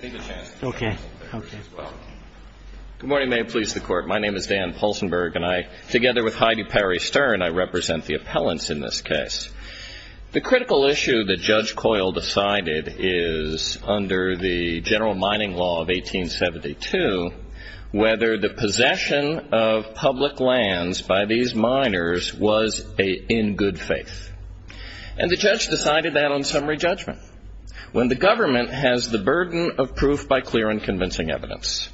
Good morning, may it please the court. My name is Dan Poulsenberg and I, together with Heidi Perry Stern, I represent the appellants in this case. The critical issue that Judge Coyle decided is, under the General Mining Law of 1872, whether the possession of public lands by these miners was in good faith. And the judge decided that on summary judgment. When the government has the burden of proof by clear and convincing evidence.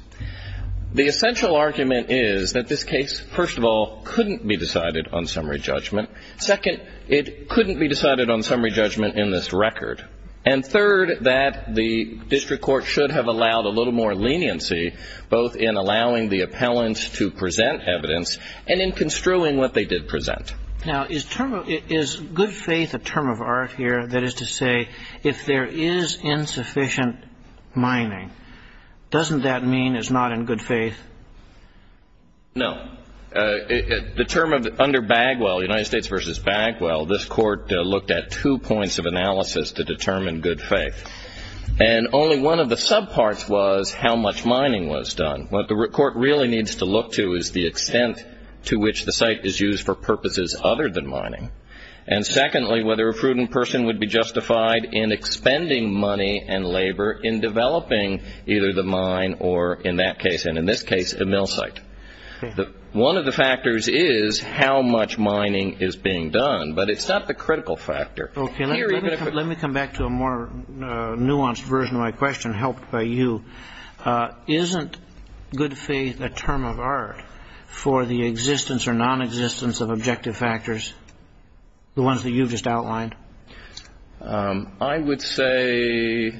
The essential argument is that this case, first of all, couldn't be decided on summary judgment. Second, it couldn't be decided on summary judgment in this record. And third, that the district court should have allowed a little more leniency, both in allowing the appellants to present evidence and in construing what they did present. Now, is good faith a term of art here? That is to say, if there is insufficient mining, doesn't that mean it's not in good faith? No. The term under Bagwell, United States v. Bagwell, this court looked at two points of analysis to determine good faith. And only one of the subparts was how much mining was done. What the court really needs to look to is the extent to which the site is used for purposes other than mining. And secondly, whether a prudent person would be justified in expending money and labor in developing either the mine or, in that case and in this case, a mill site. One of the factors is how much mining is being done. But it's not the critical factor. Okay. Let me come back to a more nuanced version of my question, helped by you. Isn't good faith a term of art for the existence or nonexistence of objective factors, the ones that you've just outlined? I would say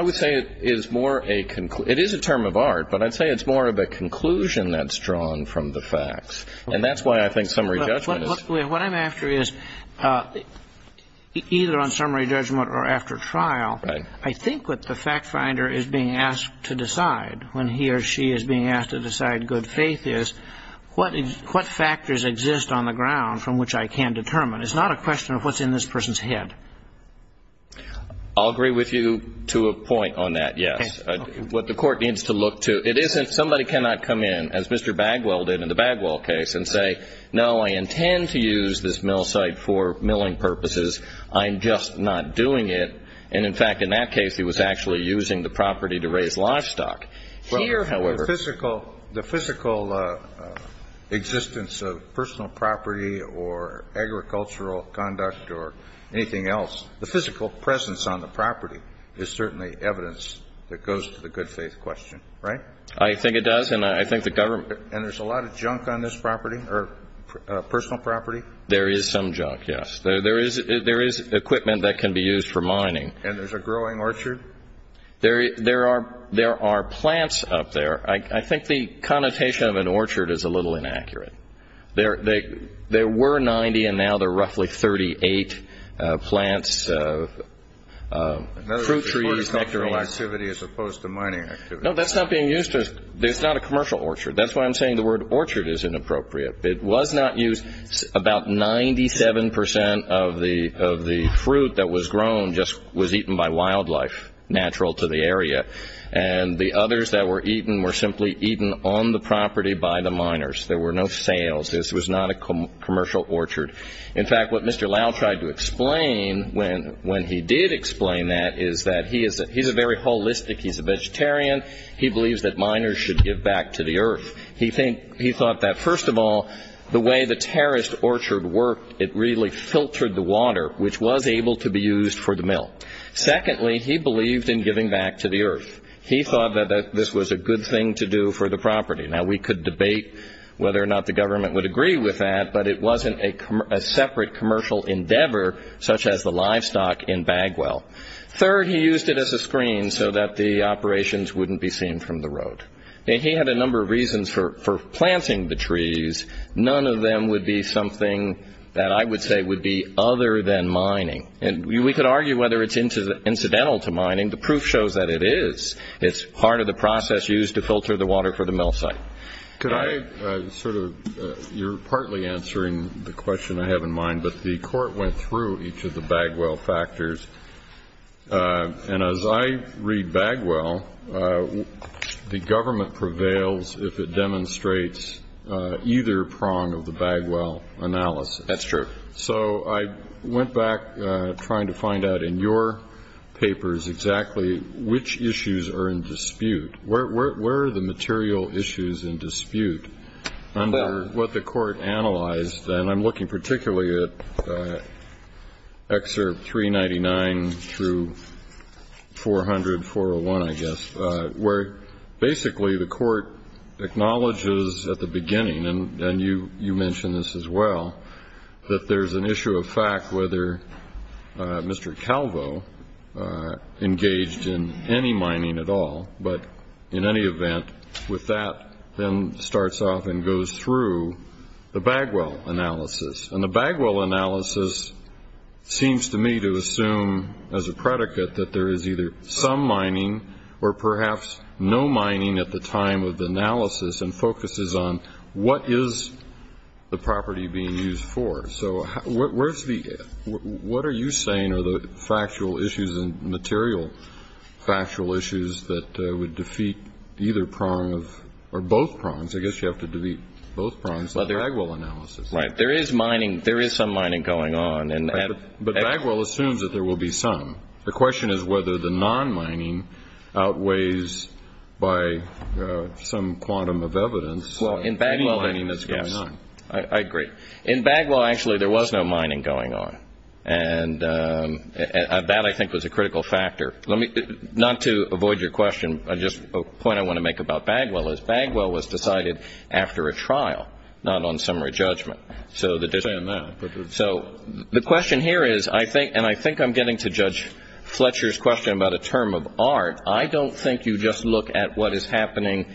it is more a conclusion. It is a term of art, but I'd say it's more of a conclusion that's drawn from the facts. And that's why I think summary judgment is... What I'm after is either on summary judgment or after trial, I think what the fact finder is being asked to decide when he or she is being asked to decide good faith is what factors exist on the ground from which I can determine. It's not a question of what's in this person's head. I'll agree with you to a point on that, yes. What the court needs to look to, it isn't somebody cannot come in, as Mr. Bagwell did in the Bagwell case, and say, no, I intend to use this mill site for milling purposes. I'm just not doing it. And in fact, in that case, he was actually using the property to raise livestock. Here, however... The physical existence of personal property or agricultural conduct or anything else, the physical presence on the property is certainly evidence that goes to the good faith question, right? I think it does, and I think the government... And there's a lot of junk on this property or personal property? There is some junk, yes. There is equipment that can be used for mining. And there's a growing orchard? There are plants up there. I think the connotation of an orchard is a little inaccurate. There were 90, and now there are roughly 38 plants, fruit trees, nectarines. Another part of cultural activity as opposed to mining activity. No, that's not being used to... It's not a commercial orchard. That's why I'm saying the word orchard is inappropriate. It was not used... About 97 percent of the fruit that was grown just was eaten by wildlife, natural to the area. And the others that were eaten were simply eaten on the property by the miners. There were no sales. This was not a commercial orchard. In fact, what Mr. Lau tried to explain when he did explain that is that he's a very holistic, he's a vegetarian, he believes that miners should give back to the earth. He thought that, first of all, the way the terraced orchard worked, it really filtered the water, which was able to be used for the mill. Secondly, he believed in giving back to the earth. He thought that this was a good thing to do for the property. Now, we could debate whether or not the government would agree with that, but it wasn't a separate commercial endeavor, such as the livestock in Bagwell. Third, he used it as a screen so that the operations wouldn't be seen from the road. He had a number of reasons for planting the trees. None of them would be something that I would say would be other than mining. And we could argue whether it's incidental to mining. The proof shows that it is. It's part of the process used to filter the water for the mill site. Could I sort of, you're partly answering the question I have in mind, but the court went through each of the Bagwell factors. And as I read Bagwell, the government prevails if it demonstrates either prong of the Bagwell analysis. That's true. So I went back trying to find out in your papers exactly which issues are in dispute. Where are the material issues in dispute under what the court analyzed? And I'm looking particularly at Excerpt 399 through 400, 401, I guess, where basically the court acknowledges at the beginning, and you mentioned this as well, that there's an issue of fact whether Mr. Calvo engaged in any mining at all. But in any event, with that then starts off and goes through the Bagwell analysis. And the Bagwell analysis seems to me to assume as a predicate that there is either some mining or perhaps no mining at the time of the analysis and focuses on what is the property being used for. So what are you saying are the factual issues and material factual issues that would defeat either prong of, or both prongs, I guess you have to defeat both prongs of the Bagwell analysis. Right. There is mining, there is some mining going on. But Bagwell assumes that there will be some. The question is whether the non-mining outweighs by some quantum of evidence. Well, in Bagwell, I agree. In Bagwell, actually, there was no mining going on. And that, I think, was a critical factor. Not to avoid your question, just a point I want to make about Bagwell is Bagwell was decided after a trial, not on summary judgment. So the question here is, and I think I'm getting to Judge Fletcher's question about a term of art, I don't think you just look at what is happening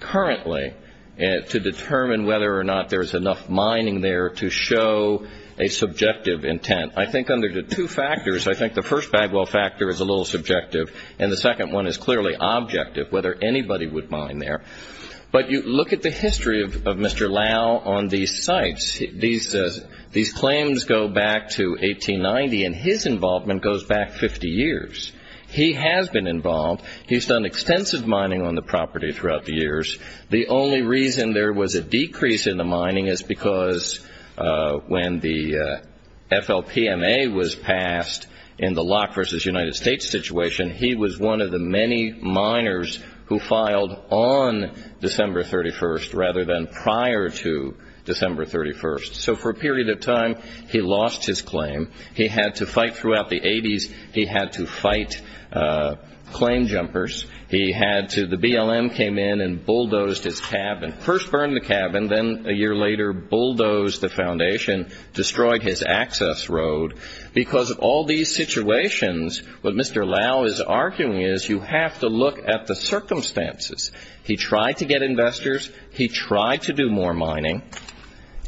currently to determine whether or not there is enough mining there to show a subjective intent. I think under the two factors, I think the first Bagwell factor is a little subjective and the second one is clearly objective, whether anybody would mine there. But you look at the history of Mr. Lau on these sites. These claims go back to 1890 and his involvement goes back 50 years. He has been involved. He's done extensive mining on the property throughout the years. The only reason there was a decrease in the mining is because when the FLPMA was passed in the Locke v. United States situation, he was one of the many miners who filed on December 31st rather than prior to December 31st. So for a period of time, he lost his claim. He had to fight throughout the 80s. He had to fight claim jumpers. He had to, the BLM came in and bulldozed his cabin. First burned the cabin, then a year later bulldozed the foundation, destroyed his access road. Because of all these situations, what Mr. Lau is arguing is you have to look at the circumstances. He tried to get investors. He tried to do more mining.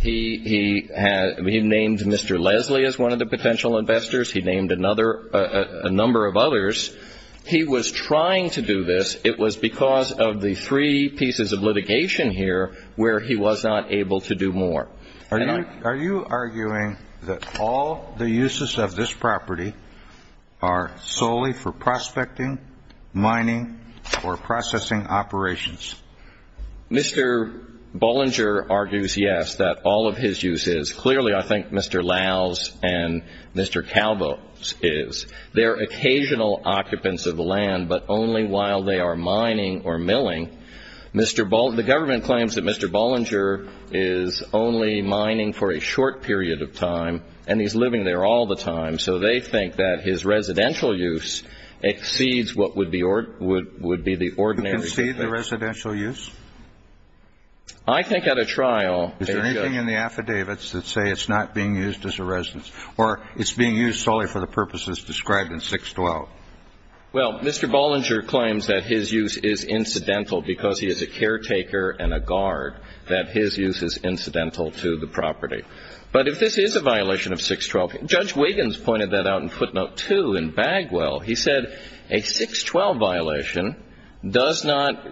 He named Mr. Leslie as one of the potential investors. He named a number of others. He was trying to do this. It was because of the three pieces of litigation here where he was not able to do more. Are you arguing that all the uses of this property are solely for prospecting, mining, or processing operations? Mr. Bollinger argues, yes, that all of his uses, clearly I think Mr. Lau's and Mr. Calvo's is. They are occasional occupants of the land, but only while they are mining or milling. The government claims that Mr. Bollinger is only mining for a short period of time, and he's living there all the time. So they think that his residential use exceeds what would be the ordinary... Exceed the residential use? I think at a trial... Is there anything in the affidavits that say it's not being used as a residence, or it's being used solely for the purposes described in 612? Well, Mr. Bollinger claims that his use is incidental because he is a caretaker and a guard, that his use is incidental to the property. But if this is a violation of 612, Judge Wiggins pointed that out in footnote 2 in Bagwell. He said a 612 violation does not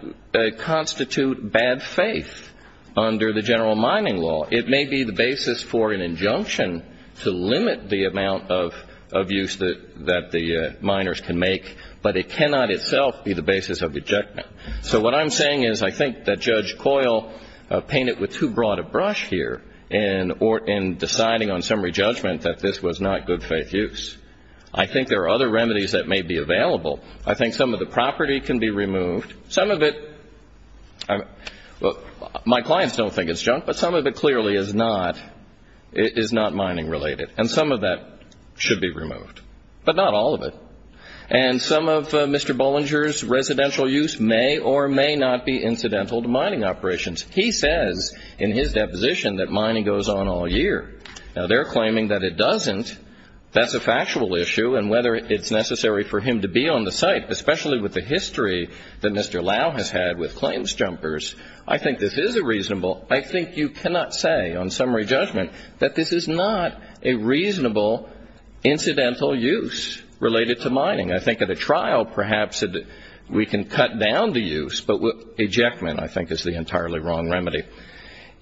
constitute bad faith under the general mining law. It may be the basis for an injunction to limit the amount of use that the miners can make, but it cannot itself be the basis of injunction. So what I'm saying is I think that Judge Coyle painted with too broad a brush here in deciding on summary judgment that this was not good faith use. I think there are other remedies that may be available. I think some of the property can be removed. Some of it... My God, that should be removed. But not all of it. And some of Mr. Bollinger's residential use may or may not be incidental to mining operations. He says in his deposition that mining goes on all year. Now, they're claiming that it doesn't. That's a factual issue, and whether it's necessary for him to be on the site, especially with the history that Mr. Lau has had with claims jumpers, I think this is a reasonable... I think you cannot say on summary judgment that this is not a reasonable incidental use related to mining. I think at a trial perhaps we can cut down the use, but ejectment I think is the entirely wrong remedy.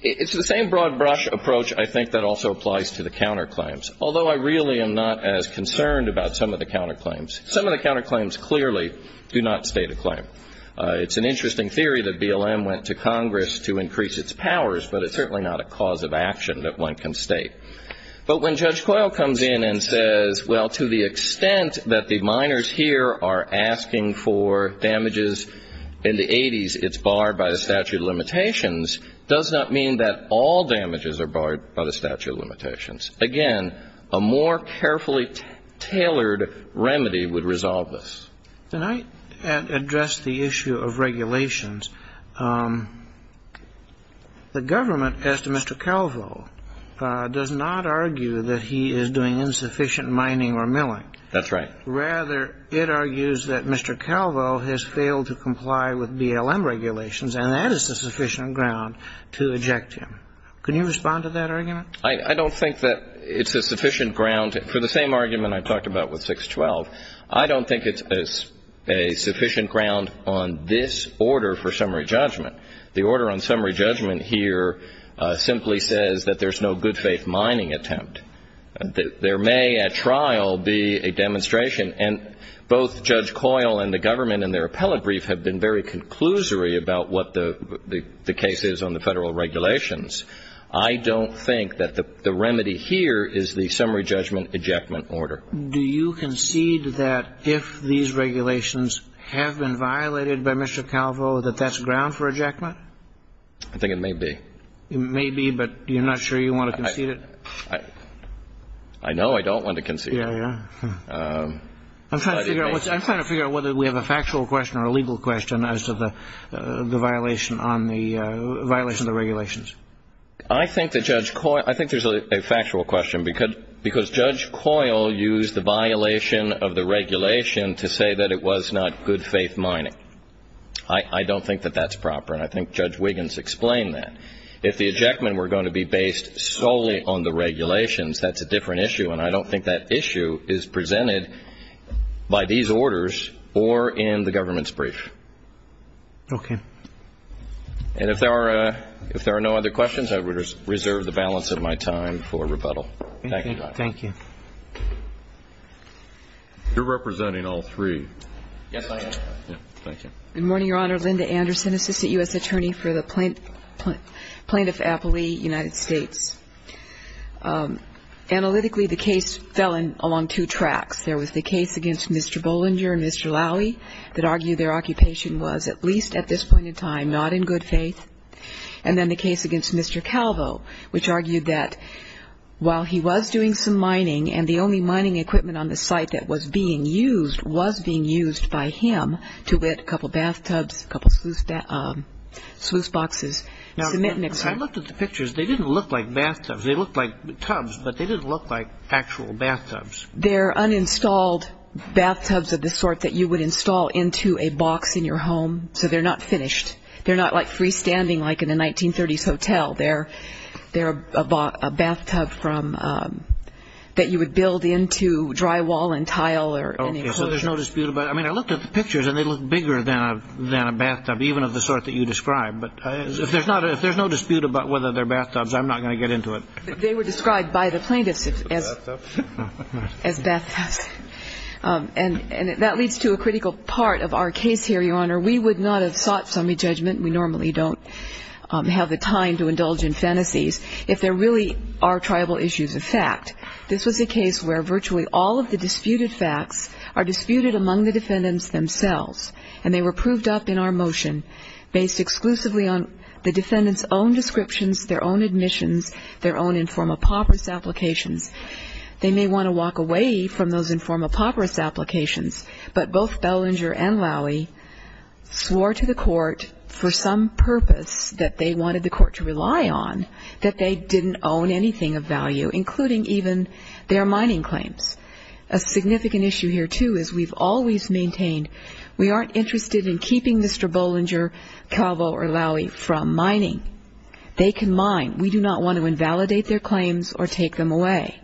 It's the same broad brush approach I think that also applies to the counterclaims, although I really am not as concerned about some of the counterclaims. Some of the counterclaims clearly do not state a claim. It's an interesting theory that BLM went to Congress to increase its powers, but it's certainly not a cause of action that one can state. But when Judge Coyle comes in and says, well, to the extent that the miners here are asking for damages in the 80s, it's barred by the statute of limitations, does not mean that all damages are barred by the statute of limitations. Again, a more carefully tailored remedy would resolve this. Can I address the issue of regulations? The government, as to Mr. Calvo, does not argue that he is doing insufficient mining or milling. That's right. Rather, it argues that Mr. Calvo has failed to comply with BLM regulations, and that is a sufficient ground to eject him. Can you respond to that argument? I don't think that it's a sufficient ground. For the same argument I talked about with I don't think it's a sufficient ground on this order for summary judgment. The order on summary judgment here simply says that there's no good faith mining attempt. There may, at trial, be a demonstration, and both Judge Coyle and the government in their appellate brief have been very conclusory about what the case is on the federal regulations. I don't think that the remedy here is the summary judgment ejectment order. Do you concede that if these regulations have been violated by Mr. Calvo, that that's ground for ejectment? I think it may be. It may be, but you're not sure you want to concede it? I know I don't want to concede it. Yeah, yeah. I'm trying to figure out whether we have a factual question or a legal question as to the violation on the regulations. I think that Judge Coyle, I think there's a factual question because Judge Coyle used the violation of the regulation to say that it was not good faith mining. I don't think that that's proper, and I think Judge Wiggins explained that. If the ejectment were going to be based solely on the regulations, that's a different issue, and I don't think that issue is presented by these orders or in the government's brief. Okay. And if there are no other questions, I would reserve the balance of my time for rebuttal. Thank you, Judge. Thank you. You're representing all three. Yes, I am. Yeah, thank you. Good morning, Your Honor. Linda Anderson, assistant U.S. attorney for the plaintiff Appley, United States. Analytically, the case fell in along two tracks. There was the case against Mr. Bollinger and Mr. Lowey that argued their occupation was, at least at this point in time, not in good faith, and then the case against Mr. Calvo, which argued that while he was doing some mining and the only mining equipment on the site that was being used was being used by him to lit a couple bathtubs, a couple of sluice boxes, cement mixers. Now, I looked at the pictures. They didn't look like bathtubs. They looked like tubs, but they didn't look like actual bathtubs. They're uninstalled bathtubs of the sort that you would install into a box in your home, so they're not finished. They're not like freestanding, like in a 1930s hotel. They're a bathtub that you would build into drywall and tile or any enclosure. Okay, so there's no dispute about it. I mean, I looked at the pictures, and they look bigger than a bathtub, even of the sort that you described. But if there's no dispute about whether they're bathtubs, I'm not going to get into it. They were described by the plaintiffs as bathtubs. And that leads to a critical part of our case here, Your Honor. We would not have sought summary judgment, we normally don't have the time to indulge in fantasies, if there really are tribal issues of fact. This was a case where virtually all of the disputed facts are disputed among the defendants themselves, and they were proved up in our motion based exclusively on the defendants' own descriptions, their own admissions, their own inform-a-pauperous applications. They may want to walk away from those inform-a-pauperous applications, but both Bollinger and Lowey swore to the court for some purpose that they wanted the court to rely on, that they didn't own anything of value, including even their mining claims. A significant issue here, too, is we've always maintained we aren't interested in keeping Mr. Bollinger, Calvo, or Lowey from mining. They can mine. We do not want to invalidate their claims or take them away.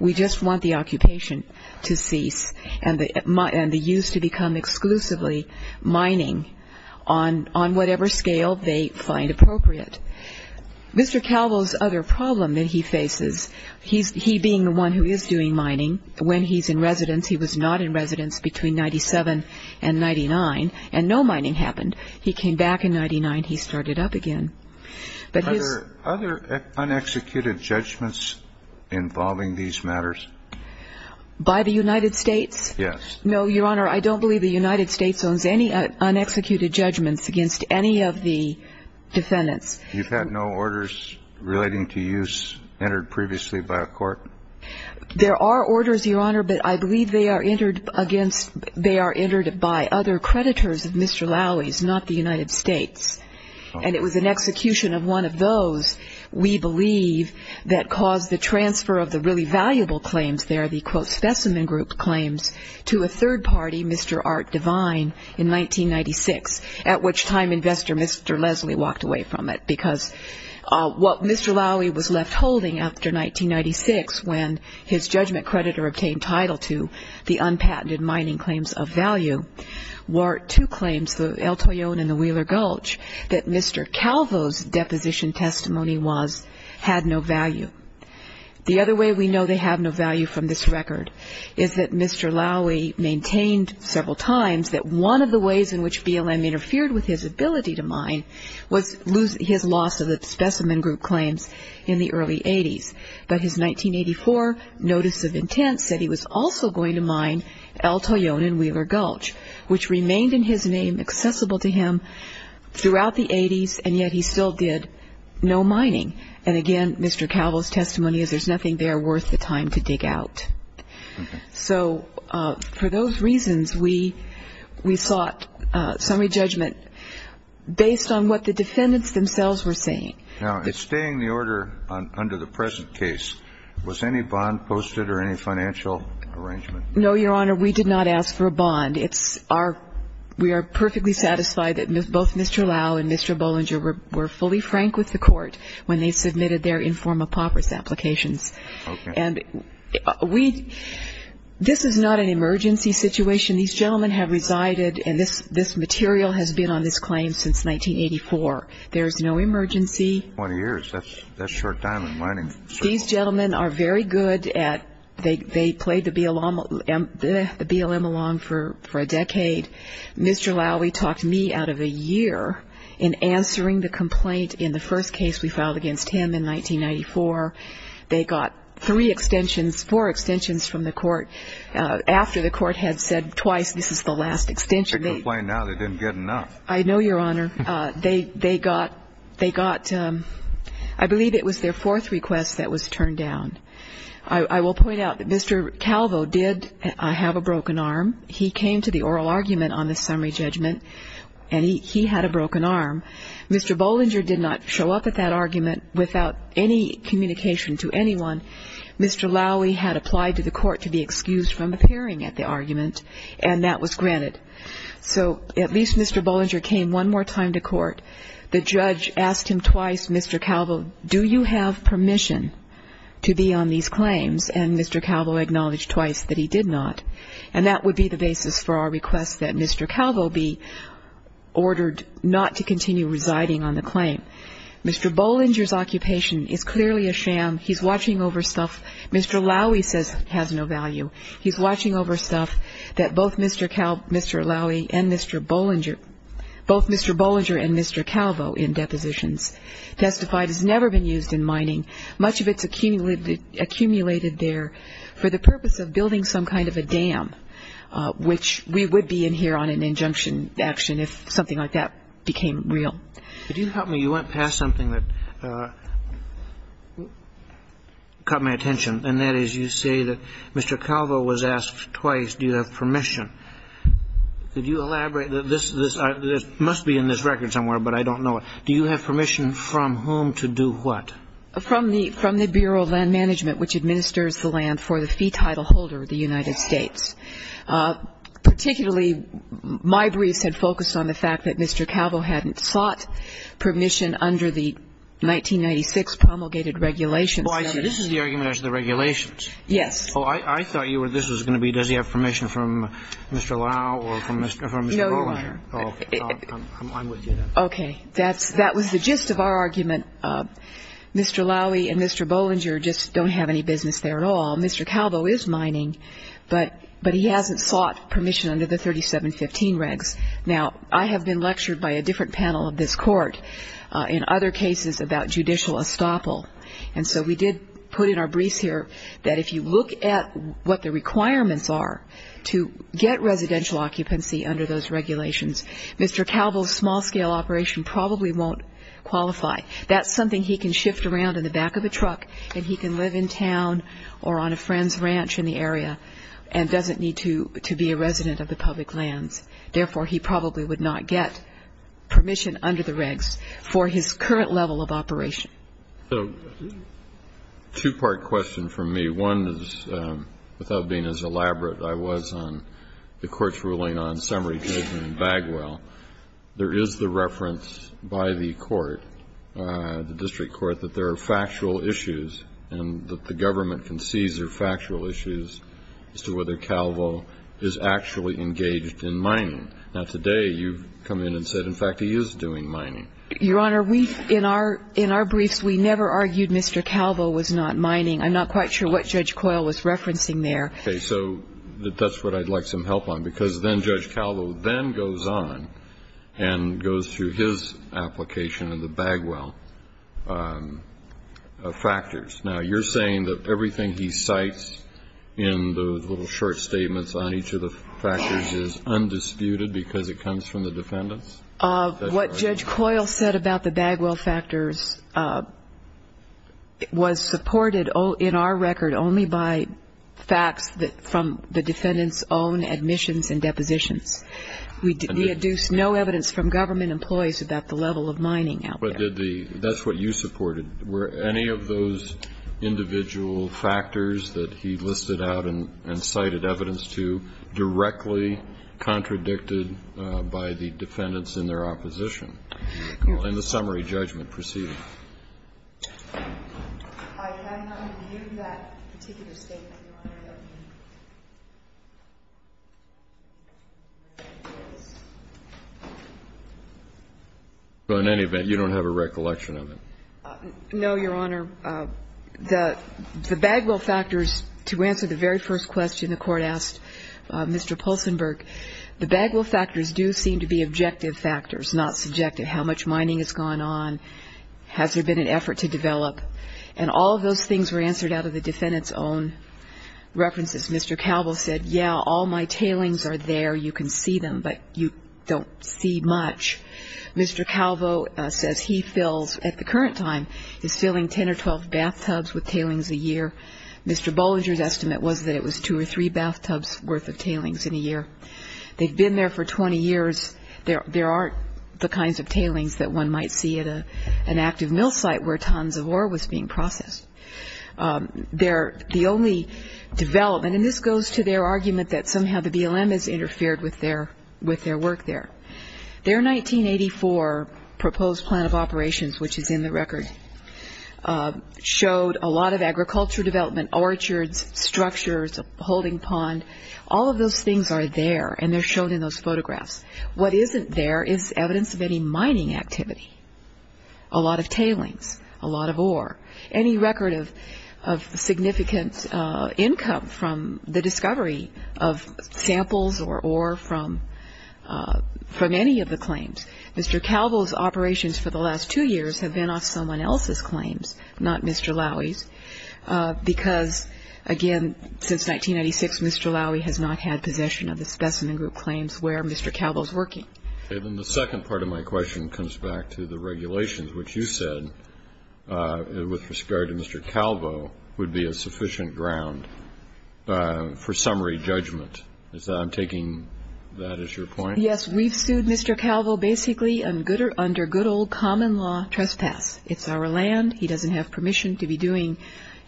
We just want the occupation to cease and the use to become exclusively mining on whatever scale they find appropriate. Mr. Calvo's other problem that he faces, he being the one who is doing mining, when he's in residence, he was not in residence between 97 and 99, and no mining happened. He came back in 99. He started up again. Are there other unexecuted judgments involving these matters? By the United States? Yes. No, Your Honor, I don't believe the United States owns any unexecuted judgments against any of the defendants. You've had no orders relating to use entered previously by a court? There are orders, Your Honor, but I believe they are entered against by other creditors of Mr. Lowey's, not the United States. And it was an execution of one of those, we believe, that caused the transfer of the really valuable claims there, the quote, specimen group claims, to a third party, Mr. Art Devine, in 1996, at which time investor Mr. Leslie walked away from it. Because what Mr. Lowey was left holding after 1996, when his judgment creditor obtained the unpatented mining claims of value, were two claims, the El Toyon and the Wheeler Gulch, that Mr. Calvo's deposition testimony was, had no value. The other way we know they have no value from this record is that Mr. Lowey maintained several times that one of the ways in which BLM interfered with his ability to mine was his loss of the specimen group claims in the early 80s. But his 1984 notice of intent said he was also going to mine El Toyon and Wheeler Gulch, which remained in his name accessible to him throughout the 80s, and yet he still did no mining. And again, Mr. Calvo's testimony is there's nothing there worth the time to dig out. So for those reasons, we sought summary judgment based on what the defendants themselves were saying. Now, in staying the order under the present case, was any bond posted or any financial arrangement? No, Your Honor. We did not ask for a bond. It's our – we are perfectly satisfied that both Mr. Lowey and Mr. Bollinger were fully frank with the Court when they submitted their inform-a-popers applications. Okay. And we – this is not an emergency situation. These gentlemen have resided, and this is no emergency. Twenty years. That's short time in mining. These gentlemen are very good at – they played the BLM along for a decade. Mr. Lowey talked me out of a year in answering the complaint in the first case we filed against him in 1994. They got three extensions – four extensions from the Court after the Court had said twice this is the last extension. They complain now they didn't get enough. I know, Your Honor. They got – they got – I believe it was their fourth request that was turned down. I will point out that Mr. Calvo did have a broken arm. He came to the oral argument on the summary judgment, and he had a broken arm. Mr. Bollinger did not show up at that argument without any communication to anyone. Mr. Lowey had applied to the Court to be excused from appearing at the argument, and that was granted. So at least Mr. Bollinger came one more time to Court. The judge asked him twice, Mr. Calvo, do you have permission to be on these claims? And Mr. Calvo acknowledged twice that he did not. And that would be the basis for our request that Mr. Calvo be ordered not to continue residing on the claim. Mr. Bollinger's occupation is clearly a sham. He's watching over stuff. Mr. Lowey says it has no value. He's watching over stuff that both Mr. Cal – Mr. Lowey and Mr. Bollinger – both Mr. Bollinger and Mr. Calvo in depositions testified has never been used in mining. Much of it's accumulated there for the purpose of building some kind of a dam, which we would be in here on an injunction action if something like that became real. Could you help me? You went past something that caught my attention, and that is you say that Mr. Calvo was asked twice, do you have permission. Could you elaborate that this – this must be in this record somewhere, but I don't know it. Do you have permission from whom to do what? From the Bureau of Land Management, which administers the land for the fee title holder of the United States. Particularly, my briefs had focused on the fact that Mr. Calvo hadn't sought permission under the 1996 promulgated regulations. Well, I see. This is the argument as to the regulations. Yes. Oh, I – I thought you were – this was going to be does he have permission from Mr. Lowey or from Mr. Bollinger. No, Your Honor. Okay. I'm with you then. Okay. That's – that was the gist of our argument. Mr. Lowey and Mr. Bollinger just don't have any business there at all. Mr. Calvo is mining, but – but he hasn't sought permission under the 3715 regs. Now, I have been lectured by a different panel of this court in other cases about judicial estoppel, and so we did put in our briefs here that if you look at what the requirements are to get residential occupancy under those regulations, Mr. Calvo's small-scale operation probably won't qualify. That's something he can shift around in the back of a truck and he can live in town or on a friend's ranch in the area and doesn't need to be a resident of the public lands. Therefore, he probably would not get permission under the regs for his current level of operation. So two-part question from me. One is, without being as elaborate, I was on the Court's ruling on summary judgment in Bagwell. There is the reference by the court, the district court, that there are factual issues and that the government concedes there are factual issues as to whether Calvo is actually engaged in mining. Now, today, you've come in and said, in fact, he is doing mining. Your Honor, we – in our – in our briefs, we never argued Mr. Calvo was not mining. I'm not quite sure what Judge Coyle was referencing there. Okay. So that's what I'd like some help on, because then Judge Calvo then goes on and goes through his application of the Bagwell factors. Now, you're saying that everything he cites in the little short statements on each of the factors is undisputed because it comes from the defendants? What Judge Coyle said about the Bagwell factors was supported in our record only by facts from the defendants' own admissions and depositions. We deduce no evidence from government employees about the level of mining out there. But did the – that's what you supported. Were any of those individual factors that he listed out and cited evidence to directly contradicted by the defendants in their opposition? Well, in the summary judgment, proceed. I have not reviewed that particular statement, Your Honor. So in any event, you don't have a recollection of it? No, Your Honor. The Bagwell factors, to answer the very first question the Court asked Mr. Poulsenberg, the Bagwell factors do seem to be objective factors, not subjective. How much mining has gone on? Has there been an effort to develop? And all of those things were answered out of the defendants' own references. Mr. Calvo said, yeah, all my tailings are there. You can see them, but you don't see much. Mr. Calvo says he fills, at the current time, is filling 10 or 12 bathtubs with tailings a year. Mr. Bollinger's estimate was that it was two or three bathtubs' worth of tailings in a year. They've been there for 20 years. There aren't the kinds of tailings that one might see at an active mill site where tons of ore was being processed. They're the only development, and this goes to their argument that somehow the BLM has interfered with their work there. Their 1984 proposed plan of operations, which is in the record, showed a lot of agriculture development, orchards, structures, a holding pond. All of those things are there, and they're shown in those photographs. What isn't there is evidence of any mining activity, a lot of tailings, a lot of ore, any record of significant income from the discovery of samples or ore from any of the claims. Mr. Calvo's operations for the last two years have been off someone else's claims, not Mr. Lowey's, because, again, since 1996, Mr. Lowey has not had possession of the specimen group claims where Mr. Calvo's working. Okay. Then the second part of my question comes back to the regulations, which you said with respect to Mr. Calvo would be a sufficient ground for summary judgment. I'm taking that as your point? Yes. We've sued Mr. Calvo basically under good old common law trespass. It's our land. He doesn't have permission to be doing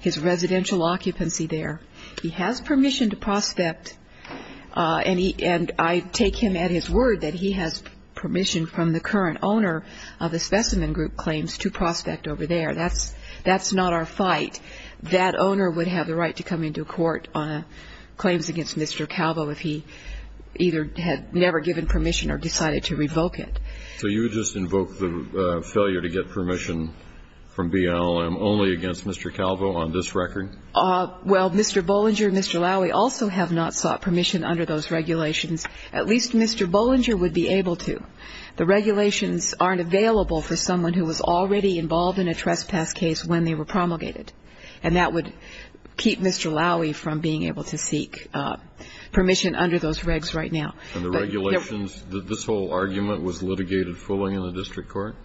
his residential occupancy there. He has permission to prospect, and I take him at his word that he has permission from the current owner of the specimen group claims to prospect over there. That's not our fight. That owner would have the right to come into court on claims against Mr. Calvo if he either had never given permission or decided to revoke it. So you would just invoke the failure to get permission from BLM only against Mr. Calvo on this record? Well, Mr. Bollinger and Mr. Lowey also have not sought permission under those regulations. At least Mr. Bollinger would be able to. The regulations aren't available for someone who was already involved in a trespass case when they were promulgated, and that would keep Mr. Lowey from being able to seek permission under those regs right now. And the regulations, this whole argument was litigated fully in the district court?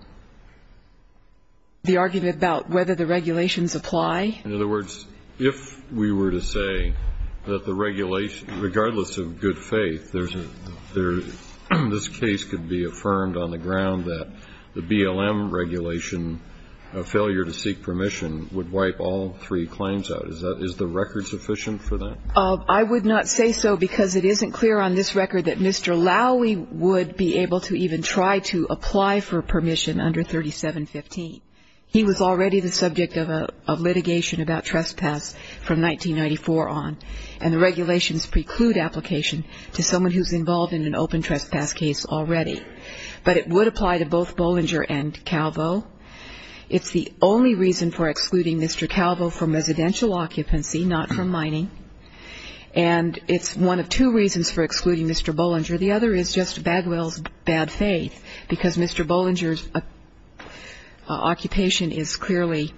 The argument about whether the regulations apply? In other words, if we were to say that the regulation, regardless of good faith, this case could be affirmed on the ground that the BLM regulation, a failure to seek permission would wipe all three claims out. Is the record sufficient for that? I would not say so because it isn't clear on this record that Mr. Lowey would be able to even try to apply for permission under 3715. He was already the subject of litigation about trespass from 1994 on, and the regulations preclude application to someone who's involved in an open trespass case already. But it would apply to both Bollinger and Calvo. It's the only reason for excluding Mr. Calvo from residential occupancy, not from mining. And it's one of two reasons for excluding Mr. Bollinger. The other is just Bagwell's bad faith because Mr. Bollinger's occupation is clearly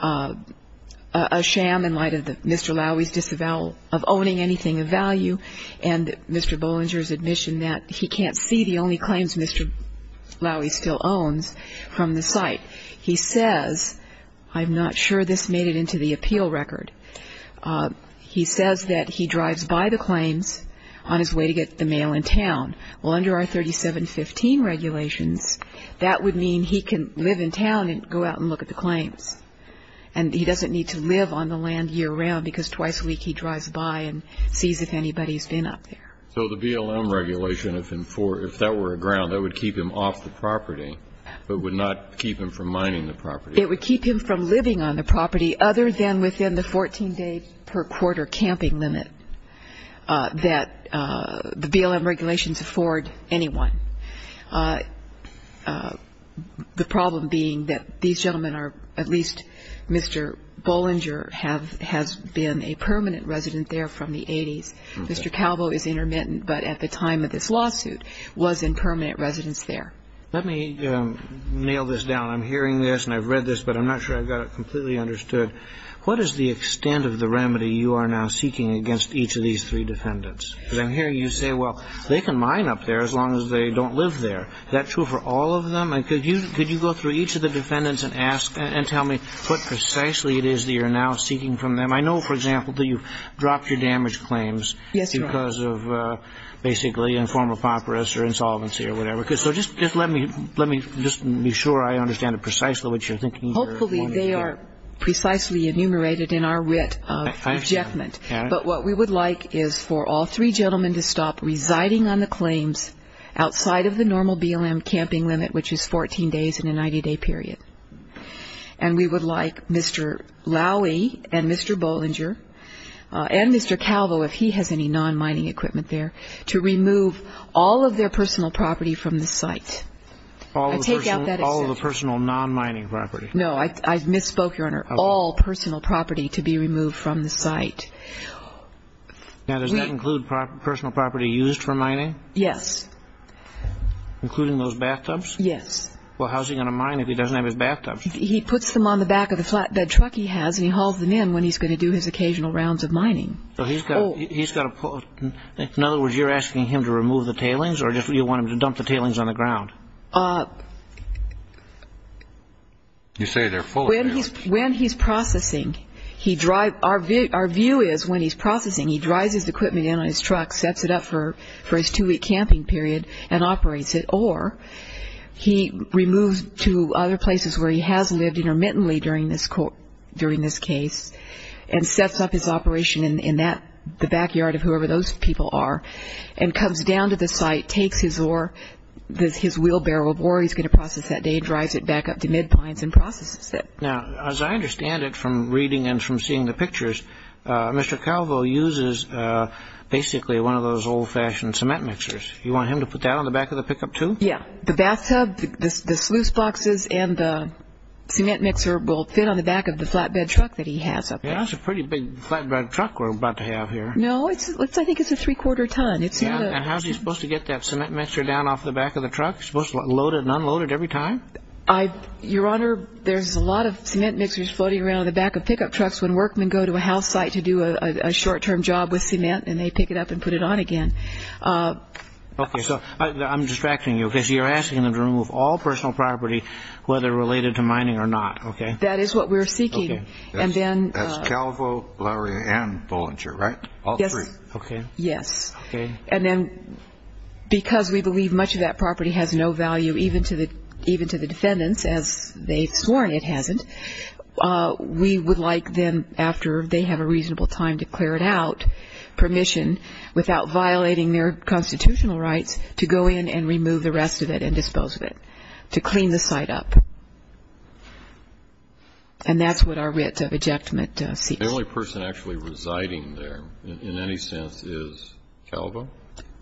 a sham in light of Mr. Lowey's disavowal of owning anything of value and Mr. Bollinger's admission that he can't see the only claims Mr. Lowey still owns from the site. He says, I'm not sure this made it into the appeal record, he says that he drives by the claims on his way to get the mail in town. Well, under our 3715 regulations, that would mean he can live in town and go out and look at the claims, and he doesn't need to live on the land year round because twice a week he drives by and sees if anybody's been up there. So the BLM regulation, if that were a ground, that would keep him off the property but would not keep him from mining the property? It would keep him from living on the property other than within the 14-day per quarter camping limit that the BLM regulations afford anyone. The problem being that these gentlemen are, at least Mr. Bollinger, has been a permanent resident there from the 80s. Mr. Calvo is intermittent, but at the time of this lawsuit was in permanent residence there. Let me nail this down. I'm hearing this and I've read this, but I'm not sure I've got it completely understood. What is the extent of the remedy you are now seeking against each of these three defendants? Because I'm hearing you say, well, they can mine up there as long as they don't live there. Is that true for all of them? Could you go through each of the defendants and ask and tell me what precisely it is that you're now seeking from them? I know, for example, that you've dropped your damage claims because of, basically, a form of papyrus or insolvency or whatever. So just let me be sure I understand precisely what you're thinking here. Hopefully they are precisely enumerated in our writ of rejectment. But what we would like is for all three gentlemen to stop residing on the claims outside of the normal BLM camping limit, which is 14 days in a 90-day period. And we would like Mr. Lowy and Mr. Bollinger and Mr. Calvo, if he has any non-mining equipment there, to remove all of their personal property from the site. All of the personal non-mining property. No, I misspoke, Your Honor. All personal property to be removed from the site. Now, does that include personal property used for mining? Yes. Including those bathtubs? Yes. Well, how's he going to mine if he doesn't have his bathtubs? He puts them on the back of the flatbed truck he has, and he hauls them in when he's going to do his occasional rounds of mining. So he's got to pull it. In other words, you're asking him to remove the tailings, or do you want him to dump the tailings on the ground? You say they're full of them. When he's processing, our view is when he's processing, he drives his equipment in on his truck, sets it up for his two-week camping period, and operates it, or he removes to other places where he has lived intermittently during this case and sets up his operation in the backyard of whoever those people are and comes down to the site, takes his ore, his wheelbarrow of ore he's going to process that day, drives it back up to Mid Pines and processes it. Now, as I understand it from reading and from seeing the pictures, Mr. Calvo uses basically one of those old-fashioned cement mixers. You want him to put that on the back of the pickup, too? Yes. The bathtub, the sluice boxes, and the cement mixer will fit on the back of the flatbed truck that he has up there. That's a pretty big flatbed truck we're about to have here. No, I think it's a three-quarter ton. And how is he supposed to get that cement mixer down off the back of the truck? Is he supposed to load it and unload it every time? Your Honor, there's a lot of cement mixers floating around on the back of pickup trucks when workmen go to a house site to do a short-term job with cement, and they pick it up and put it on again. Okay, so I'm distracting you because you're asking them to remove all personal property, whether related to mining or not, okay? That is what we're seeking. That's Calvo, Lowry, and Bollinger, right? All three. Yes. And then because we believe much of that property has no value even to the defendants, as they've sworn it hasn't, we would like them, after they have a reasonable time to clear it out, permission, without violating their constitutional rights, to go in and remove the rest of it and dispose of it, to clean the site up. And that's what our writ of ejectment seeks. The only person actually residing there in any sense is Calvo?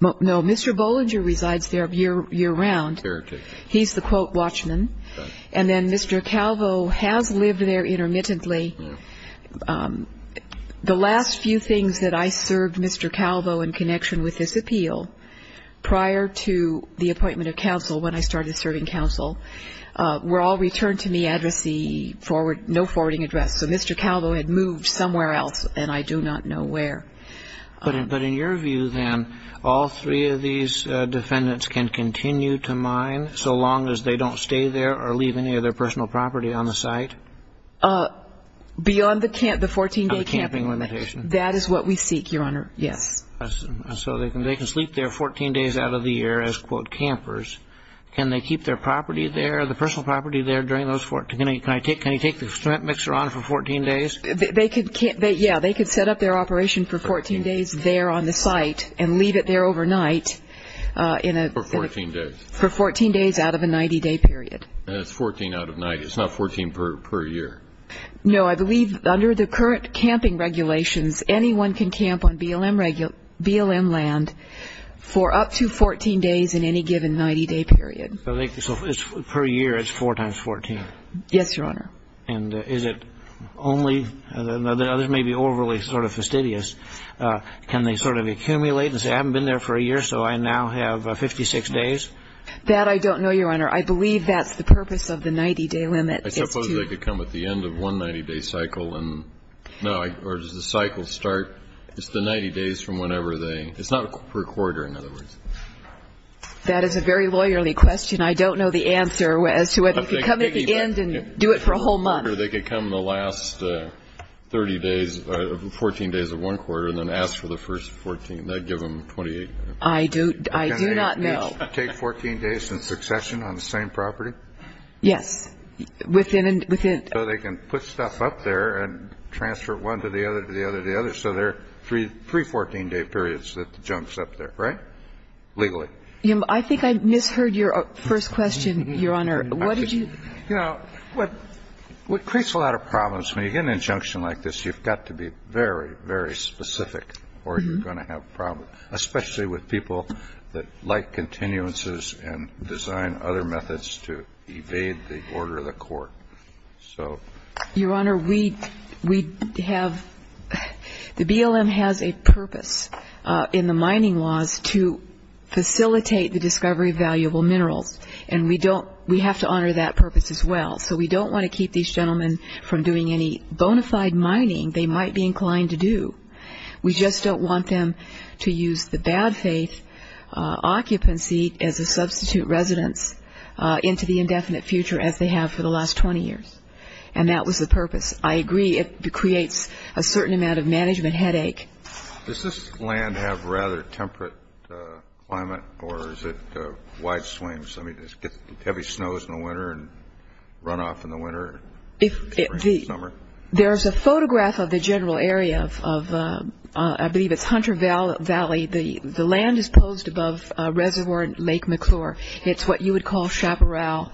No, Mr. Bollinger resides there year-round. He's the quote watchman. And then Mr. Calvo has lived there intermittently. The last few things that I served Mr. Calvo in connection with this appeal prior to the appointment of counsel, when I started serving counsel, were all returned to me, no forwarding address. So Mr. Calvo had moved somewhere else, and I do not know where. But in your view, then, all three of these defendants can continue to mine, so long as they don't stay there or leave any of their personal property on the site? Beyond the 14-day camping limit. That is what we seek, Your Honor, yes. So they can sleep there 14 days out of the year as, quote, campers. Can they keep their property there, the personal property there during those 14 days? Can you take the cement mixer on for 14 days? Yeah, they could set up their operation for 14 days there on the site and leave it there overnight. For 14 days. For 14 days out of a 90-day period. It's 14 out of 90. It's not 14 per year. No, I believe under the current camping regulations, anyone can camp on BLM land for up to 14 days in any given 90-day period. So per year, it's four times 14. Yes, Your Honor. And is it only – the others may be overly sort of fastidious. Can they sort of accumulate and say, I haven't been there for a year, so I now have 56 days? That I don't know, Your Honor. I believe that's the purpose of the 90-day limit. I suppose they could come at the end of one 90-day cycle and – no, or does the cycle start – it's the 90 days from whenever they – it's not per quarter, in other words. That is a very lawyerly question. I don't know the answer as to whether you could come at the end and do it for a whole month. They could come the last 30 days, 14 days of one quarter, and then ask for the first 14. That would give them 28. I do not know. Can they take 14 days in succession on the same property? Yes. Within – within – So they can put stuff up there and transfer it one to the other, to the other, to the other. So there are three 14-day periods that the junk's up there, right, legally? I think I misheard your first question, Your Honor. What did you – You know, what creates a lot of problems, when you get an injunction like this, you've got to be very, very specific or you're going to have problems, especially with people that like continuances and design other methods to evade the order of the court. So – Your Honor, we have – the BLM has a purpose in the mining laws to facilitate the discovery of valuable minerals. And we don't – we have to honor that purpose as well. So we don't want to keep these gentlemen from doing any bona fide mining they might be inclined to do. We just don't want them to use the bad faith occupancy as a substitute residence into the indefinite future, as they have for the last 20 years. And that was the purpose. I agree it creates a certain amount of management headache. Does this land have rather temperate climate or is it wide swings? I mean, does it get heavy snows in the winter and runoff in the winter? There's a photograph of the general area of – I believe it's Hunter Valley. The land is posed above Reservoir Lake McClure. It's what you would call chaparral.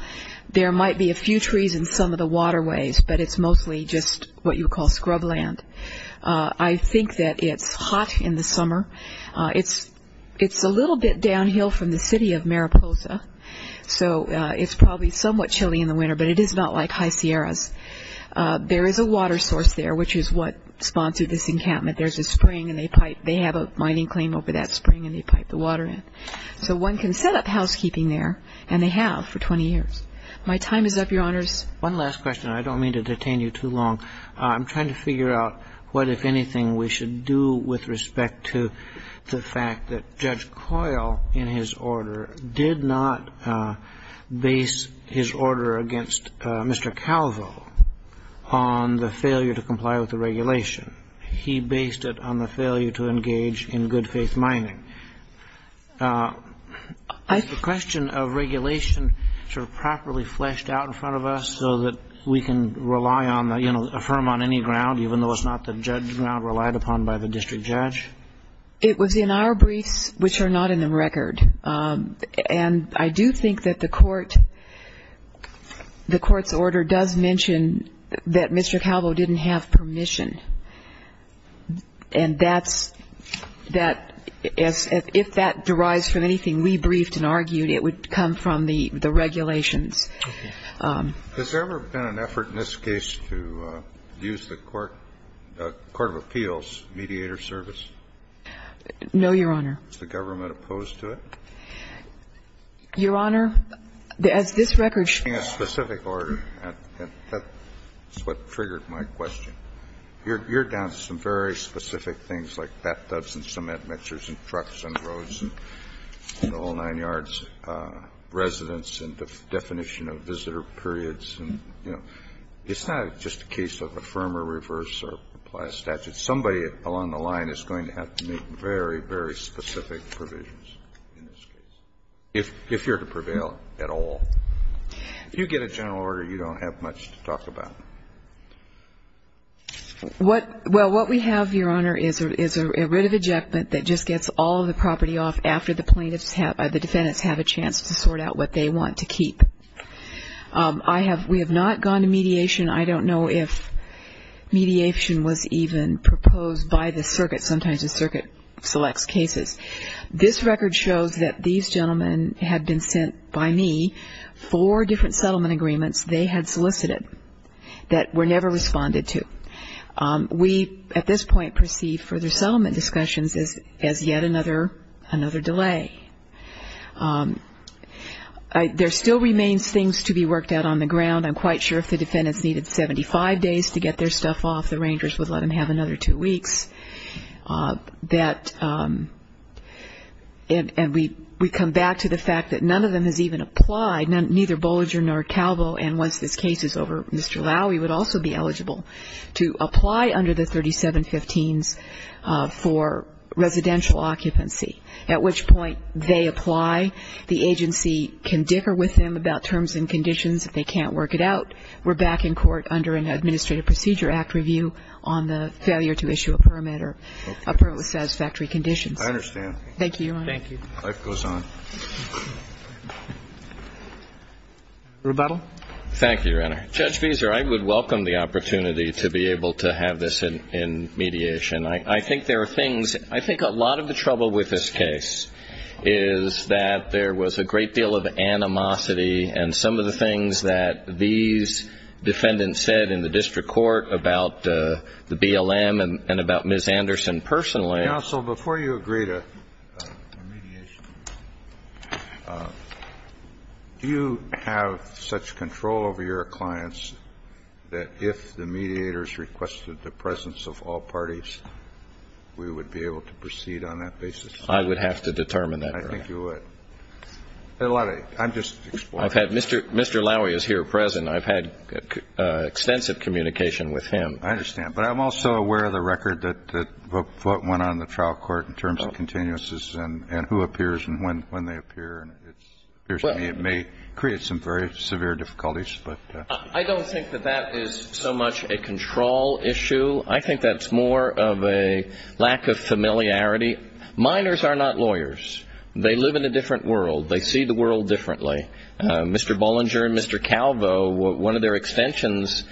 There might be a few trees in some of the waterways, but it's mostly just what you would call scrub land. I think that it's hot in the summer. It's a little bit downhill from the city of Mariposa, so it's probably somewhat chilly in the winter, but it is not like high Sierras. There is a water source there, which is what spawned this encampment. There's a spring, and they have a mining claim over that spring, and they pipe the water in. So one can set up housekeeping there, and they have for 20 years. My time is up, Your Honors. One last question. I don't mean to detain you too long. I'm trying to figure out what, if anything, we should do with respect to the fact that Judge Coyle, in his order, did not base his order against Mr. Calvo on the failure to comply with the regulation. He based it on the failure to engage in good-faith mining. Is the question of regulation sort of properly fleshed out in front of us so that we can rely on, you know, affirm on any ground, even though it's not the judgment relied upon by the district judge? It was in our briefs, which are not in the record. And I do think that the Court's order does mention that Mr. Calvo didn't have permission. And if that derives from anything we briefed and argued, it would come from the regulations. Has there ever been an effort in this case to use the court, court of appeals, mediator service? No, Your Honor. Is the government opposed to it? Your Honor, as this record shows. In a specific order. That's what triggered my question. You're down to some very specific things like bathtubs and cement mixers and trucks and roads and the whole nine yards, residence and the definition of visitor periods. And, you know, it's not just a case of affirm or reverse or apply a statute. Somebody along the line is going to have to make very, very specific provisions in this case, if you're to prevail at all. If you get a general order, you don't have much to talk about. Well, what we have, Your Honor, is a writ of ejectment that just gets all of the property off after the plaintiffs have, the defendants have a chance to sort out what they want to keep. I have, we have not gone to mediation. I don't know if mediation was even proposed by the circuit. Sometimes the circuit selects cases. This record shows that these gentlemen had been sent by me four different settlement agreements they had solicited that were never responded to. We, at this point, perceive further settlement discussions as yet another delay. There still remains things to be worked out on the ground. I'm quite sure if the defendants needed 75 days to get their stuff off, the rangers would let them have another two weeks. That, and we come back to the fact that none of them has even applied, neither Bolliger nor Calvo, and once this case is over, Mr. Lowey would also be eligible to apply under the 3715s for residential occupancy, at which point they apply. The agency can differ with them about terms and conditions. If they can't work it out, we're back in court under an Administrative Procedure Act review on the failure to issue a permit or a permit with satisfactory conditions. I understand. Thank you, Your Honor. Thank you. Life goes on. Rebuttal. Thank you, Your Honor. Judge Fieser, I would welcome the opportunity to be able to have this in mediation. I think there are things, I think a lot of the trouble with this case is that there was a great deal of animosity and some of the things that these defendants said in the district court about the BLM and about Ms. Anderson personally. Counsel, before you agree to mediation, do you have such control over your clients that if the mediators requested the presence of all parties, we would be able to proceed on that basis? I would have to determine that, Your Honor. I think you would. I'm just exploring. Mr. Lowey is here present. I've had extensive communication with him. I understand. But I'm also aware of the record of what went on in the trial court in terms of continuances and who appears and when they appear. It appears to me it may create some very severe difficulties. I don't think that that is so much a control issue. I think that's more of a lack of familiarity. Minors are not lawyers. They live in a different world. They see the world differently. Mr. Bollinger and Mr. Calvo, one of their extensions,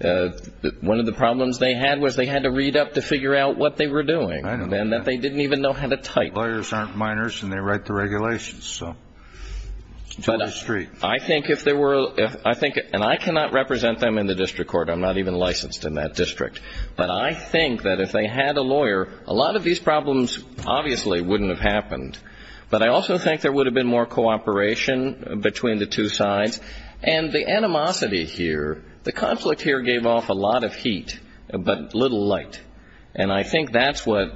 one of the problems they had was they had to read up to figure out what they were doing and that they didn't even know how to type. Lawyers aren't minors and they write the regulations. So it's a two-way street. I think if there were, and I cannot represent them in the district court. I'm not even licensed in that district. But I think that if they had a lawyer, a lot of these problems obviously wouldn't have happened. But I also think there would have been more cooperation between the two sides. And the animosity here, the conflict here gave off a lot of heat but little light. And I think that's what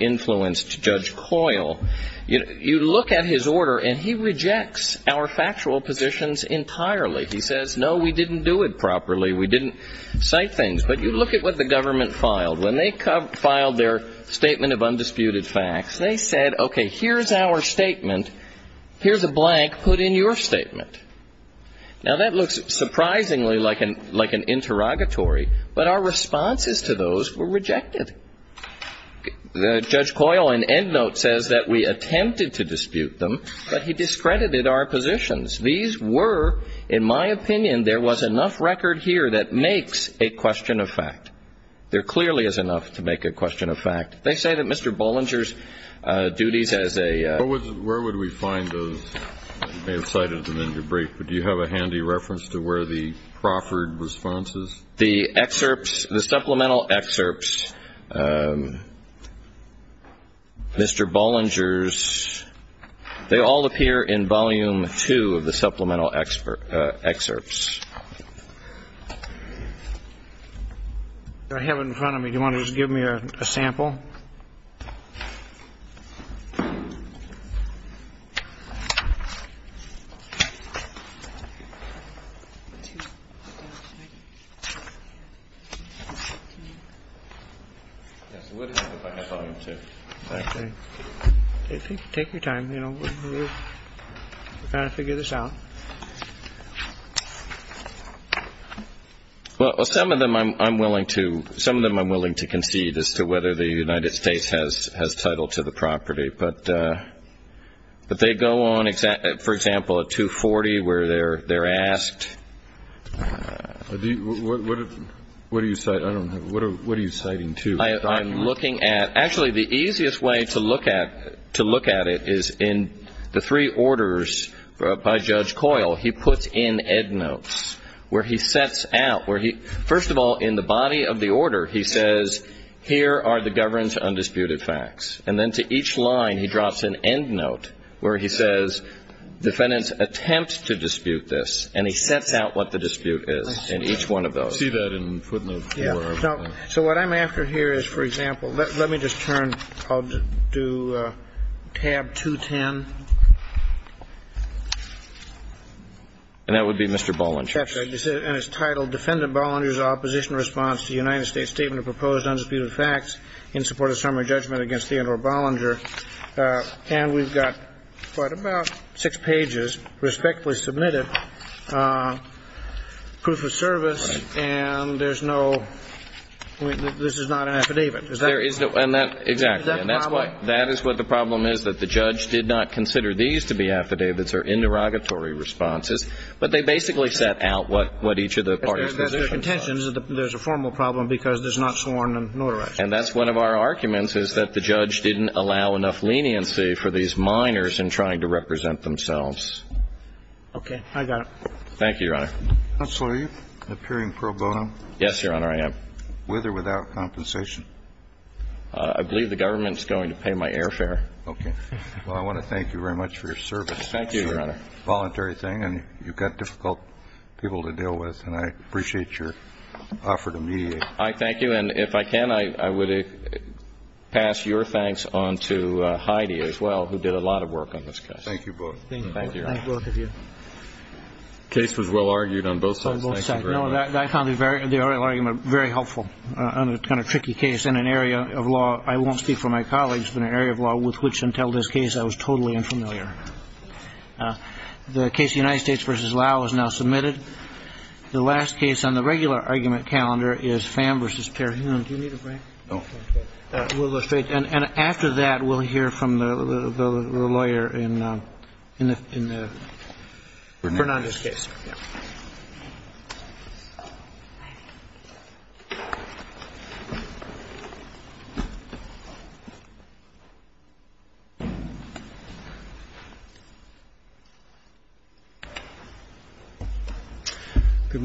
influenced Judge Coyle. You look at his order and he rejects our factual positions entirely. He says, no, we didn't do it properly. We didn't cite things. But you look at what the government filed. When they filed their statement of undisputed facts, they said, okay, here's our statement, here's a blank, put in your statement. Now, that looks surprisingly like an interrogatory, but our responses to those were rejected. Judge Coyle in end note says that we attempted to dispute them, but he discredited our positions. These were, in my opinion, there was enough record here that makes a question of fact. There clearly is enough to make a question of fact. They say that Mr. Bollinger's duties as a... Where would we find those? You may have cited them in your brief. But do you have a handy reference to where the Crawford response is? The excerpts, the supplemental excerpts, Mr. Bollinger's, they all appear in volume two of the supplemental excerpts. I have it in front of me. Do you want to just give me a sample? Yes, it would help if I had volume two. Okay. Take your time, you know. We're trying to figure this out. Well, some of them I'm willing to concede as to whether the United States has title to the property. But they go on, for example, at 240 where they're asked... What are you citing? I don't know. What are you citing, too? I'm looking at... So what I'm after here is, for example... Let me just turn... I'll do tab 210. And that would be Mr. Bollinger. That's it. And it's titled, Defendant Bollinger's Opposition Response to the United States Statement of Proposed Undisputed Facts in Support of Summary Judgment against Theodore Bollinger. And we've got what, about six pages, respectfully submitted, proof of service. And there's no... This is not an affidavit. There is no... And that... Exactly. Is that the problem? The problem is that the judge did not consider these to be affidavits or interrogatory responses. But they basically set out what each of the parties... There's a contention. There's a formal problem because there's not sworn and notarized. And that's one of our arguments, is that the judge didn't allow enough leniency for these minors in trying to represent themselves. Okay. I got it. Thank you, Your Honor. Counselor, are you appearing pro bono? Yes, Your Honor, I am. With or without compensation? I believe the government is going to pay my airfare. Okay. Well, I want to thank you very much for your service. Thank you, Your Honor. It's a voluntary thing, and you've got difficult people to deal with. And I appreciate your offer to mediate. I thank you. And if I can, I would pass your thanks on to Heidi as well, who did a lot of work on this case. Thank you both. Thank you. Thank both of you. The case was well argued on both sides. On both sides. No, I found the oral argument very helpful on a kind of tricky case in an area of law I won't speak for my colleagues, but an area of law with which, until this case, I was totally unfamiliar. The case of United States v. Lau is now submitted. The last case on the regular argument calendar is Pham v. Perhune. Do you need a break? No. We'll go straight. And after that, we'll hear from the lawyer in the Fernandez case. Thank you.